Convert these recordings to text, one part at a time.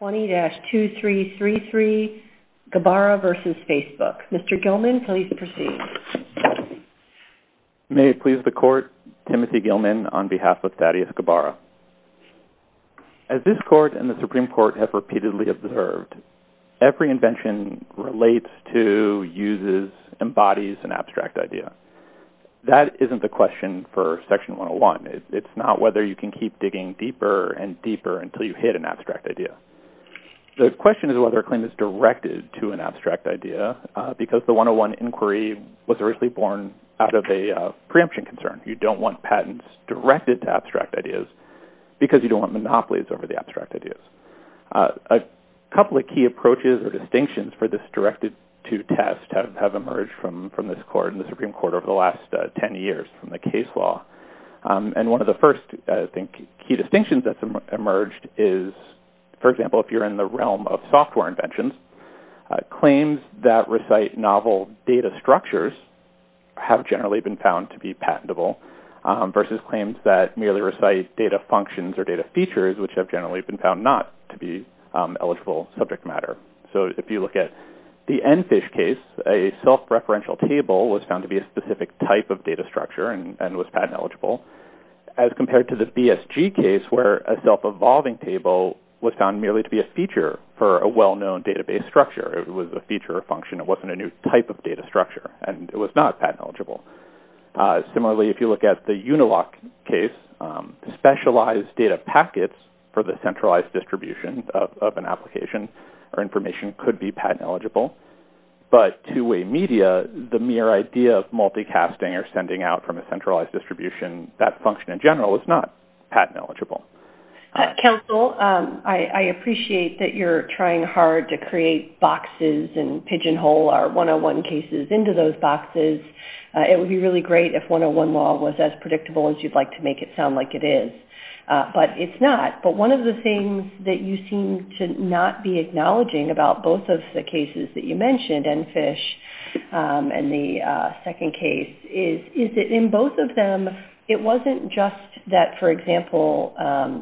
20-2333 Ghabara v. Facebook. Mr. Gilman, please proceed. May it please the Court, Timothy Gilman on behalf of Thaddeus Ghabara. As this Court and the Supreme Court have repeatedly observed, every invention relates to, uses, embodies an abstract idea. That isn't the question for Section 101. It's not whether you can keep digging deeper and deeper until you hit an abstract idea. The question is whether a claim is directed to an abstract idea, because the 101 inquiry was originally born out of a preemption concern. You don't want patents directed to abstract ideas because you don't want monopolies over the abstract ideas. A couple of key approaches or distinctions for this directed-to test have emerged from this Court and the Supreme Court over the last 10 years from the case law. One of the first key distinctions that's emerged is, for example, if you're in the realm of software inventions, claims that recite novel data structures have generally been found to be patentable versus claims that merely recite data functions or data features, which have generally been found not to be eligible subject matter. If you look at the EnFish case, a self-referential table was found to be a very specific type of data structure and was patent-eligible, as compared to the BSG case where a self-evolving table was found merely to be a feature for a well-known database structure. It was a feature or function. It wasn't a new type of data structure, and it was not patent-eligible. Similarly, if you look at the Unilock case, specialized data packets for the centralized distribution of an application or information could be patent-eligible. But two-way media, the mere idea of multicasting or sending out from a centralized distribution, that function in general is not patent-eligible. Counsel, I appreciate that you're trying hard to create boxes and pigeonhole our 101 cases into those boxes. It would be really great if 101 law was as predictable as you'd like to make it sound like it is. But it's not. But one of the things that you seem to not be acknowledging about both of the cases that you mentioned, ENFISH and the second case, is that in both of them, it wasn't just that, for example,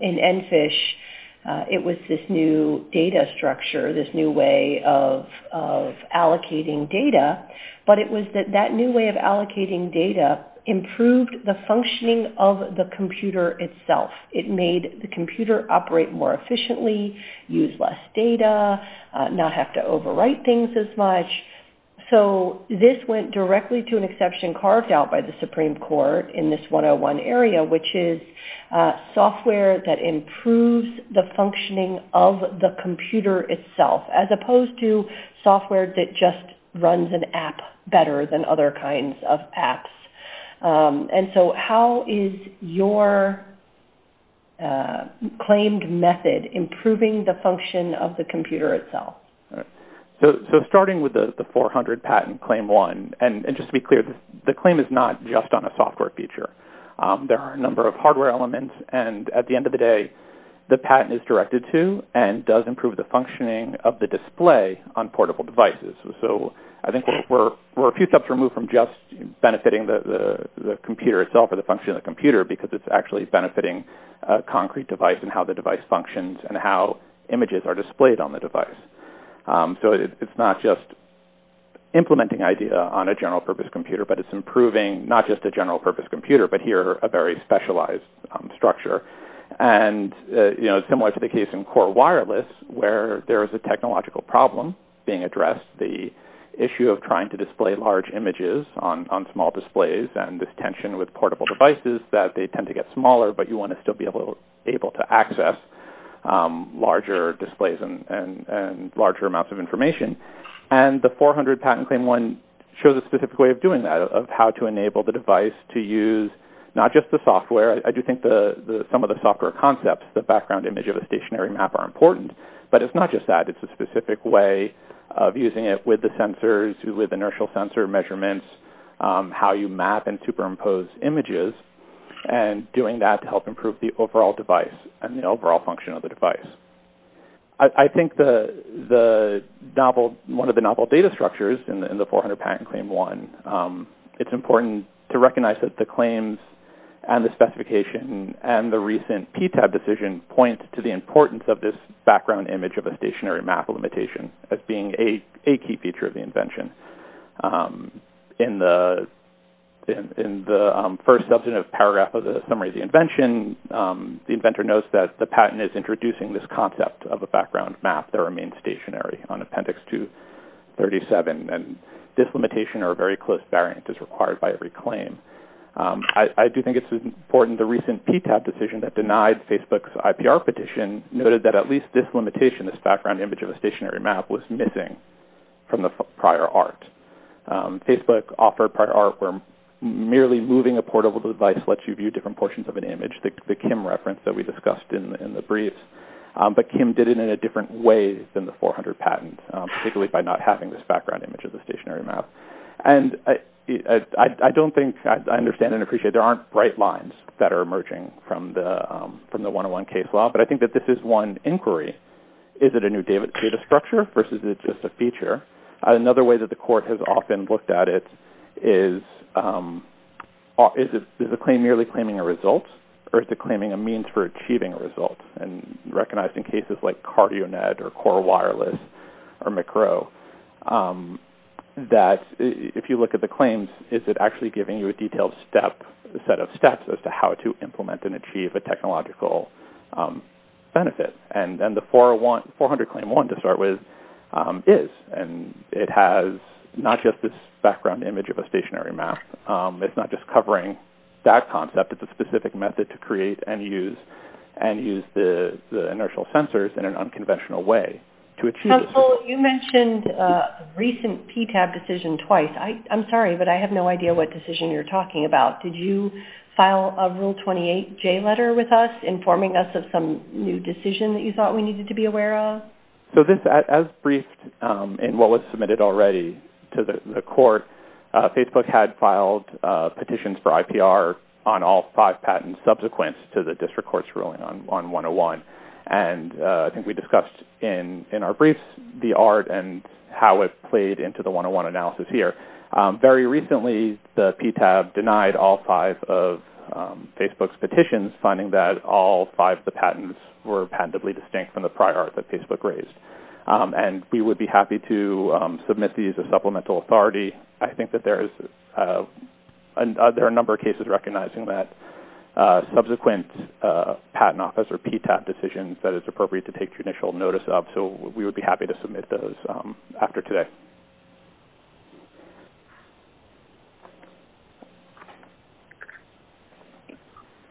in ENFISH, it was this new data structure, this new way of allocating data, but it was that that new way of allocating data improved the functioning of the computer itself. It made the computer operate more efficiently, use less data, not have to overwrite things as much. So this went directly to an exception carved out by the Supreme Court in this 101 area, which is software that improves the functioning of the computer itself, as opposed to software And so how is your claimed method improving the function of the computer itself? So starting with the 400 patent claim one, and just to be clear, the claim is not just on a software feature. There are a number of hardware elements, and at the end of the day, the patent is directed to and does improve the functioning of the display on portable devices. So I think we're a few steps removed from just benefiting the computer itself or the function of the computer because it's actually benefiting a concrete device and how the device functions and how images are displayed on the device. So it's not just implementing IDEA on a general-purpose computer, but it's improving not just a general-purpose computer, but here a very specialized structure. And similar to the case in core wireless, where there is a technological problem being addressed, the issue of trying to display large images on small displays and this tension with portable devices that they tend to get smaller, but you want to still be able to access larger displays and larger amounts of information. And the 400 patent claim one shows a specific way of doing that, of how to enable the device to use not just the software. I do think some of the software concepts, the background image of a stationary map, are important. But it's not just that. It's a specific way of using it with the sensors, with inertial sensor measurements, how you map and superimpose images, and doing that to help improve the overall device and the overall function of the device. I think one of the novel data structures in the 400 patent claim one, it's important to recognize that the claims and the specification and the recent PTAB decision point to the importance of this background image of a stationary map limitation as being a key feature of the invention. In the first substantive paragraph of the summary of the invention, the inventor notes that the patent is introducing this concept of a background map that remains stationary on Appendix 237, and this limitation or very close variant is required by every claim. I do think it's important the recent PTAB decision that denied Facebook's IPR petition noted that at least this limitation, this background image of a stationary map, was missing from the prior art. Facebook offered prior art where merely moving a portable device lets you view different portions of an image, the Kim reference that we discussed in the brief. But Kim did it in a different way than the 400 patent, particularly by not having this background image of a stationary map. And I don't think, I understand and appreciate, there aren't bright lines that are emerging from the 101 case law, but I think that this is one inquiry. Is it a new data structure versus is it just a feature? Another way that the court has often looked at it is, is the claim merely claiming a result or is it claiming a means for achieving a result? And recognized in cases like CardioNet or Core Wireless or Macro, that if you look at the claims, is it actually giving you a detailed set of steps as to how to implement and achieve a technological benefit? And then the 400 Claim 1, to start with, is. And it has not just this background image of a stationary map. It's not just covering that concept. It's a specific method to create and use the inertial sensors in an unconventional way to achieve a solution. Council, you mentioned a recent PTAB decision twice. I'm sorry, but I have no idea what decision you're talking about. Did you file a Rule 28J letter with us informing us of some new decision that you thought we needed to be aware of? So this, as briefed in what was submitted already to the court, Facebook had filed petitions for IPR on all five patents subsequent to the district court's ruling on 101. And I think we discussed in our briefs the art and how it played into the 101 analysis here. Very recently, the PTAB denied all five of Facebook's petitions, finding that all five of the patents were patentably distinct from the prior art that Facebook raised. And we would be happy to submit these as supplemental authority. I think that there are a number of cases recognizing that subsequent patent office or PTAB decisions that it's appropriate to take judicial notice of, and so we would be happy to submit those after today.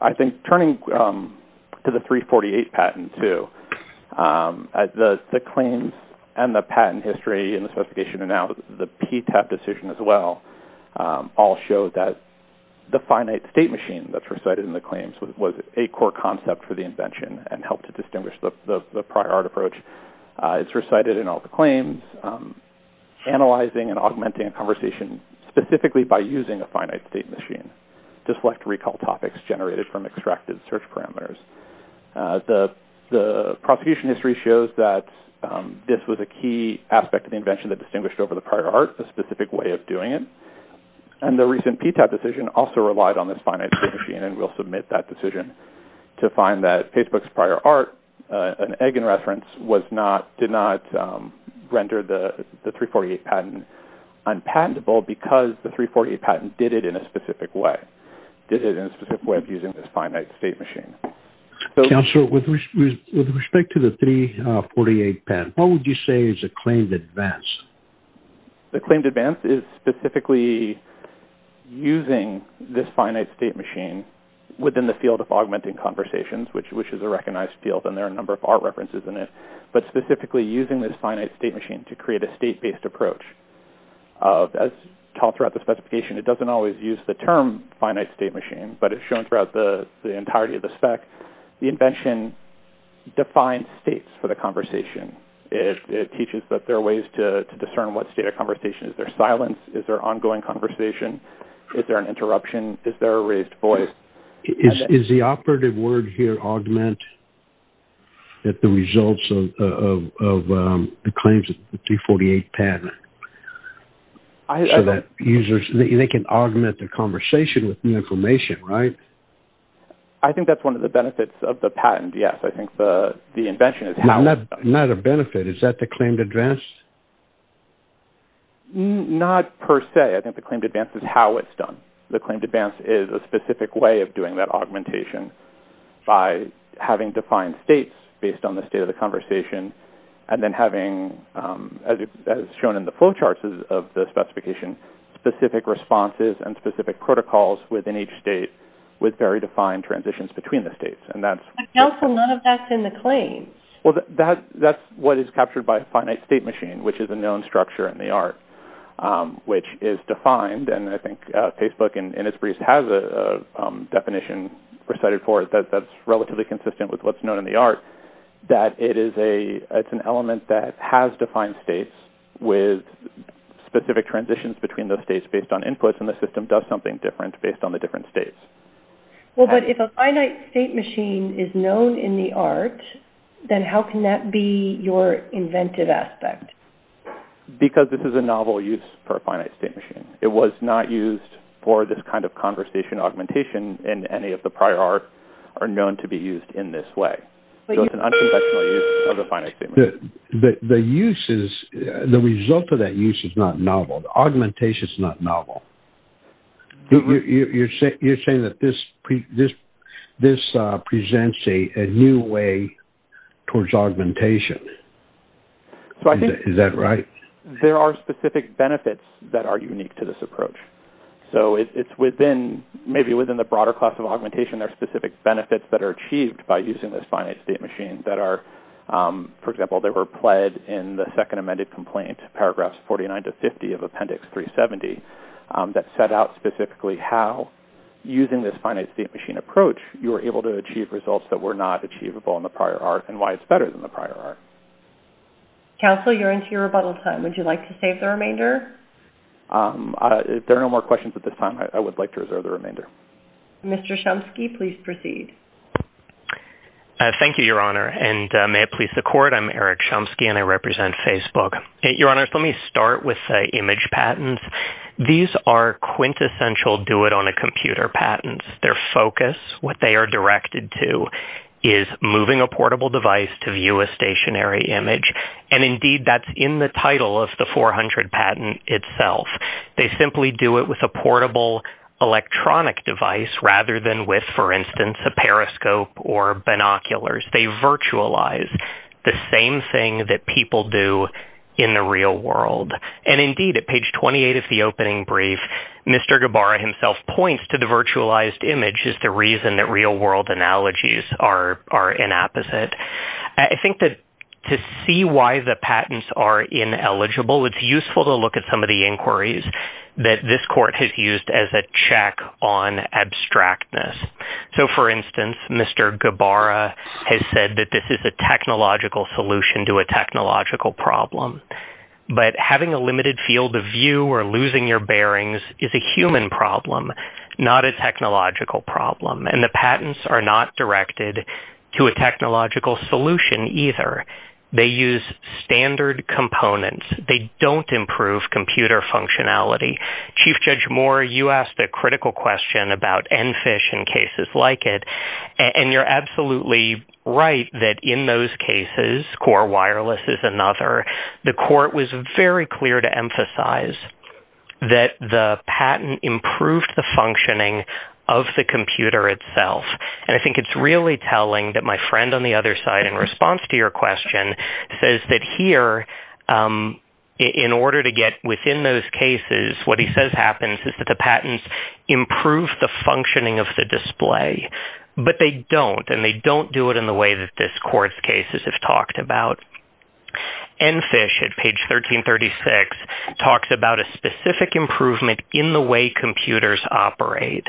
I think turning to the 348 patent, too, the claims and the patent history and the specification and now the PTAB decision as well all show that the finite state machine that's recited in the claims was a core concept for the invention and helped to distinguish the prior art approach. It's recited in all the claims, analyzing and augmenting a conversation specifically by using a finite state machine to select recall topics generated from extracted search parameters. The prosecution history shows that this was a key aspect of the invention that distinguished over the prior art a specific way of doing it. And the recent PTAB decision also relied on this finite state machine and we'll submit that decision to find that Facebook's prior art, an egg in reference, did not render the 348 patent unpatentable because the 348 patent did it in a specific way, did it in a specific way of using this finite state machine. Counselor, with respect to the 348 patent, what would you say is a claimed advance? The claimed advance is specifically using this finite state machine within the field of augmenting conversations, which is a recognized field and there are a number of art references in it, but specifically using this finite state machine to create a state-based approach. As taught throughout the specification, it doesn't always use the term finite state machine, but it's shown throughout the entirety of the spec. The invention defines states for the conversation. It teaches that there are ways to discern what state of conversation, is there silence, is there ongoing conversation, is there an interruption, is there a raised voice? Is the operative word here augment that the results of the claims of the 348 patent? So that users, they can augment the conversation with new information, right? I think that's one of the benefits of the patent, yes. I think the invention has helped. Not a benefit, is that the claimed advance? Not per se. I think the claimed advance is how it's done. The claimed advance is a specific way of doing that augmentation by having defined states based on the state of the conversation and then having, as shown in the flow charts of the specification, specific responses and specific protocols within each state with very defined transitions between the states. And also, none of that's in the claims. Well, that's what is captured by a finite state machine, which is a known structure in the art, which is defined, and I think Facebook and Innisfree has a definition for it that's relatively consistent with what's known in the art, that it's an element that has defined states with specific transitions between those states based on inputs, and the system does something different based on the different states. Well, but if a finite state machine is known in the art, then how can that be your inventive aspect? Because this is a novel use for a finite state machine. It was not used for this kind of conversation augmentation and any of the prior art are known to be used in this way. So it's an unconventional use of a finite state machine. The use is, the result of that use is not novel. The augmentation is not novel. You're saying that this presents a new way towards augmentation. Is that right? There are specific benefits that are unique to this approach. So it's within, maybe within the broader class of augmentation, there are specific benefits that are achieved by using this finite state machine that are, for example, they were pled in the second amended complaint, paragraphs 49 to 50 of appendix 370, that set out specifically how using this finite state machine approach, you were able to achieve results that were not achievable in the prior art and why it's better than the prior art. Counsel, you're into your rebuttal time. Would you like to save the remainder? There are no more questions at this time. I would like to reserve the remainder. Mr. Chomsky, please proceed. Thank you, Your Honor, and may it please the Court, I'm Eric Chomsky and I represent Facebook. Your Honor, let me start with the image patents. These are quintessential do it on a computer patents. Their focus, what they are directed to, is moving a portable device to view a stationary image. And indeed, that's in the title of the 400 patent itself. They simply do it with a portable electronic device rather than with, for instance, a periscope or binoculars. They virtualize the same thing that people do in the real world. And indeed, at page 28 of the opening brief, Mr. Gabbara himself points to the virtualized image as the reason that real world analogies are inapposite. I think that to see why the patents are ineligible, it's useful to look at some of the inquiries that this court has used as a check on abstractness. So, for instance, Mr. Gabbara has said that this is a technological solution to a technological problem. But having a limited field of view or losing your bearings is a human problem, not a technological problem. And the patents are not directed to a technological solution either. They use standard components. They don't improve computer functionality. Chief Judge Moore, you asked a critical question about EnFish and cases like it. And you're absolutely right that in those cases, Core Wireless is another. The court was very clear to emphasize that the patent improved the functioning of the computer itself. And I think it's really telling that my friend on the other side in response to your question says that here, in order to get within those cases, what he says happens is that the patents improve the functioning of the display. But they don't, and they don't do it in the way that this court's cases have talked about. EnFish, at page 1336, talks about a specific improvement in the way computers operate.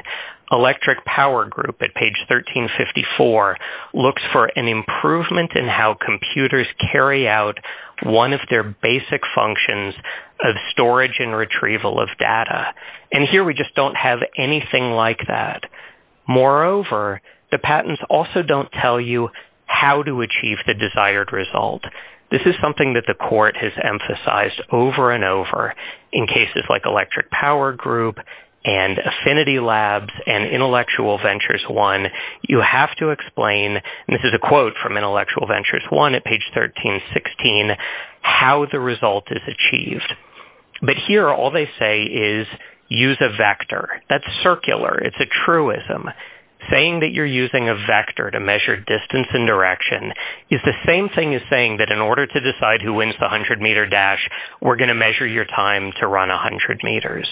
Electric Power Group at page 1354 looks for an improvement in how computers carry out one of their basic functions of storage and retrieval of data. And here we just don't have anything like that. Moreover, the patents also don't tell you how to achieve the desired result. This is something that the court has emphasized over and over in cases like Electric Power Group and Affinity Labs and Intellectual Ventures 1. You have to explain, and this is a quote from Intellectual Ventures 1 at page 1316, how the result is achieved. But here, all they say is, use a vector. That's circular. It's a truism. Saying that you're using a vector to measure distance and direction is the same thing as saying that in order to decide who wins the 100-meter dash, we're going to measure your time to run 100 meters.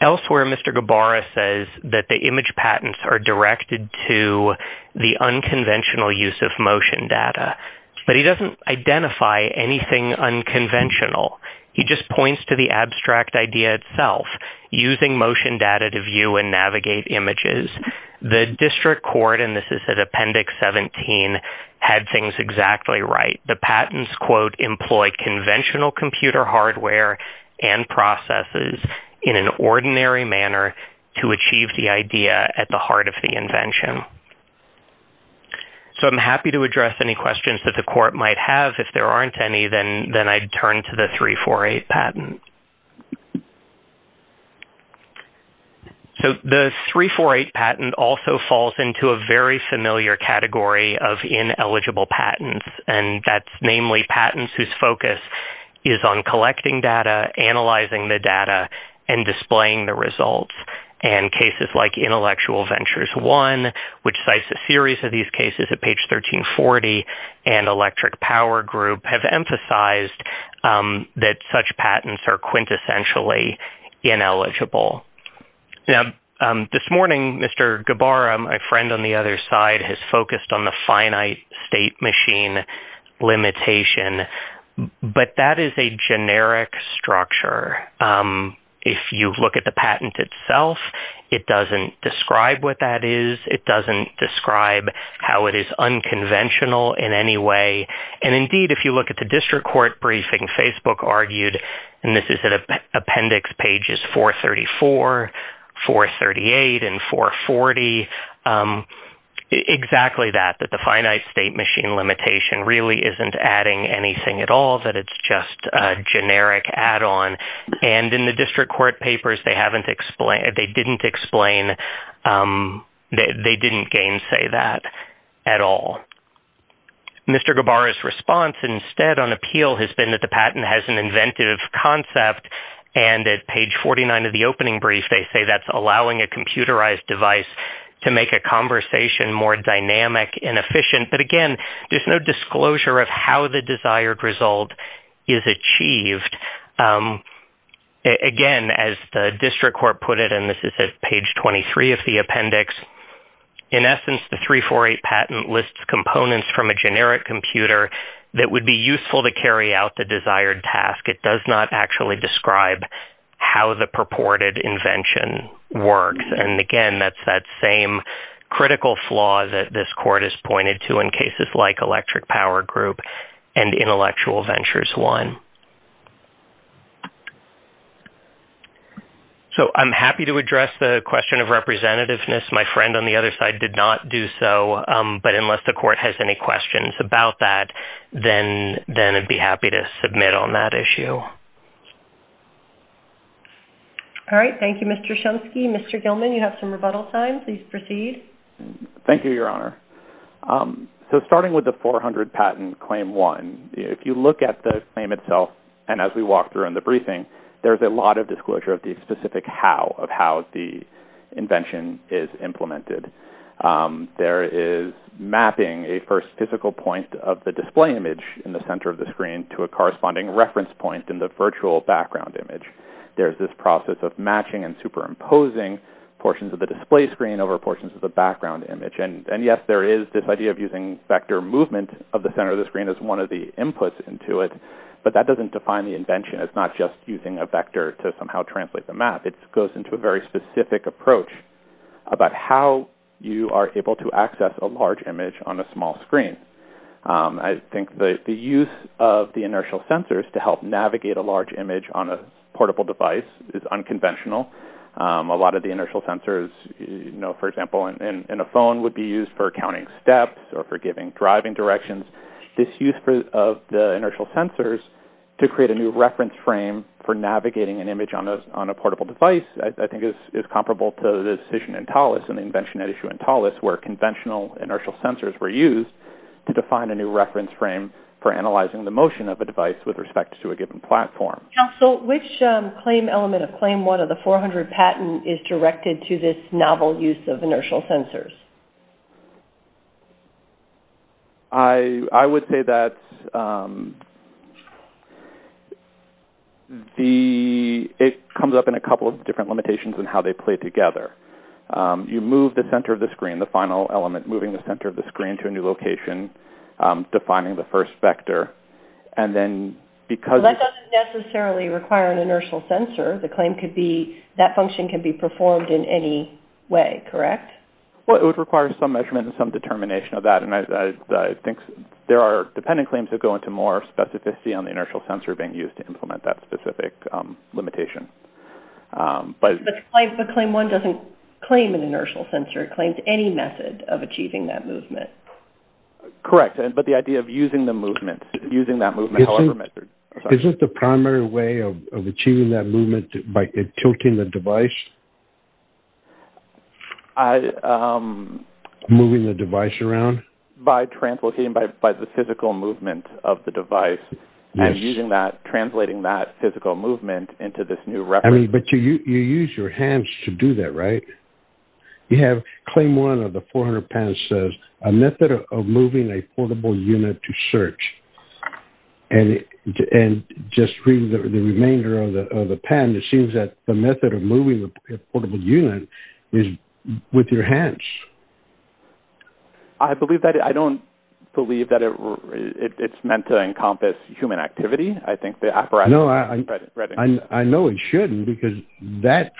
Elsewhere, Mr. Gabara says that the image patents are directed to the unconventional use of motion data. But he doesn't identify anything unconventional. He just points to the abstract idea itself, using motion data to view and navigate images. The district court, and this is at Appendix 17, had things exactly right. The patents, quote, employ conventional computer hardware and processes in an ordinary manner to achieve the idea at the heart of the invention. So I'm happy to address any questions that the court might have. If there aren't any, then I'd turn to the 348 patent. So the 348 patent also falls into a very familiar category of ineligible patents, and that's namely patents whose focus is on collecting data, analyzing the data, and displaying the results. And cases like Intellectual Ventures I, which cites a series of these cases at page 1340, and Electric Power Group have emphasized that such patents are quintessentially ineligible. Now, this morning, Mr. Gabara, my friend on the other side, has focused on the finite state machine limitation, but that is a generic structure. If you look at the patent itself, it doesn't describe what that is. It doesn't describe how it is unconventional in any way. And indeed, if you look at the district court briefing, Facebook argued, and this is at Appendix pages 434, 438, and 440, exactly that, that the finite state machine limitation really isn't adding anything at all, that it's just a generic add-on. And in the district court papers, they haven't explained, they didn't explain, they didn't gainsay that at all. Mr. Gabara's response instead on appeal has been that the patent has an inventive concept, and at page 49 of the opening brief, they say that's allowing a computerized device to make a conversation more dynamic and efficient. But again, there's no disclosure of how the desired result is achieved. Again, as the district court put it, and this is at page 23 of the appendix, in essence, the 348 patent lists components from a generic computer that would be useful to carry out the desired task. It does not actually describe how the purported invention works. And again, that's that same critical flaw that this court has pointed to in cases like Electric Power Group and Intellectual Ventures 1. So I'm happy to address the question of representativeness. My friend on the other side did not do so, but unless the court has any questions about that, then I'd be happy to submit on that issue. All right. Thank you, Mr. Shumsky. Mr. Gilman, you have some rebuttal time. Please proceed. Thank you, Your Honor. So starting with the 400 patent Claim 1, if you look at the claim itself and as we walk through in the briefing, there's a lot of disclosure of the specific how, of how the invention is implemented. There is mapping, a first physical point of the display image in the center of the screen to a corresponding reference point in the virtual background image. There's this process of matching and superimposing portions of the display screen over portions of the background image. And yes, there is this idea of using vector movement of the center of the screen as one of the inputs into it, but that doesn't define the invention as not just using a vector to somehow translate the map. It goes into a very specific approach about how you are able to access a large image on a small screen. I think the use of the inertial sensors to help navigate a large image on a portable device is unconventional. A lot of the inertial sensors, you know, for example, in a phone would be used for counting steps or for giving driving directions. This use of the inertial sensors to create a new reference frame for navigating an image on a portable device, I think is comparable to the decision in Thales and the invention at issue in Thales where conventional inertial sensors were used to define a new reference frame for analyzing the motion of a device with respect to a given platform. Council, which claim element of claim 1 of the 400 patent is directed to this novel use of inertial sensors? I would say that it comes up in a couple of different limitations in how they play together. You move the center of the screen, the final element, moving the center of the screen to a new location, defining the first vector. That doesn't necessarily require an inertial sensor. That function can be performed in any way, correct? It would require some measurement and some determination of that. I think there are dependent claims that go into more specificity on the inertial sensor being used to implement that specific limitation. But claim 1 doesn't claim an inertial sensor. It claims any method of achieving that movement. Correct, but the idea of using the movement, using that movement however measured. Isn't the primary way of achieving that movement by tilting the device? Moving the device around? By translating, by the physical movement of the device and using that, translating that physical movement into this new reference. But you use your hands to do that, right? You have claim 1 of the 400 patent says a method of moving a portable unit to search. And just reading the remainder of the patent, it seems that the method of moving a portable unit is with your hands. I believe that. I don't believe that it's meant to encompass human activity. I think the apparatus... No, I know it shouldn't because that,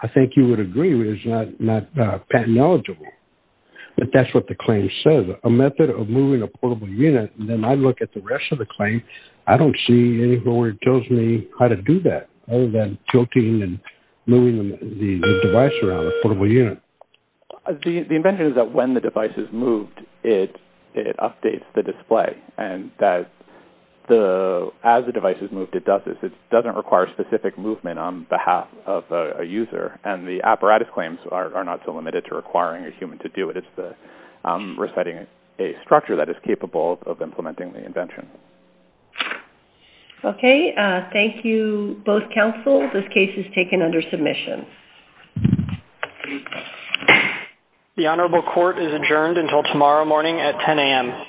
I think you would agree with, is not patent eligible. But that's what the claim says. A method of moving a portable unit, and then I look at the rest of the claim, I don't see anything where it tells me how to do that other than tilting and moving the device around a portable unit. The invention is that when the device is moved, it updates the display. And as the device is moved, it does this. It doesn't require specific movement on behalf of a user. And the apparatus claims are not so limited to requiring a human to do it. It's resetting a structure that is capable of implementing the invention. Okay, thank you both counsel. This case is taken under submission. The Honorable Court is adjourned until tomorrow morning at 10 a.m.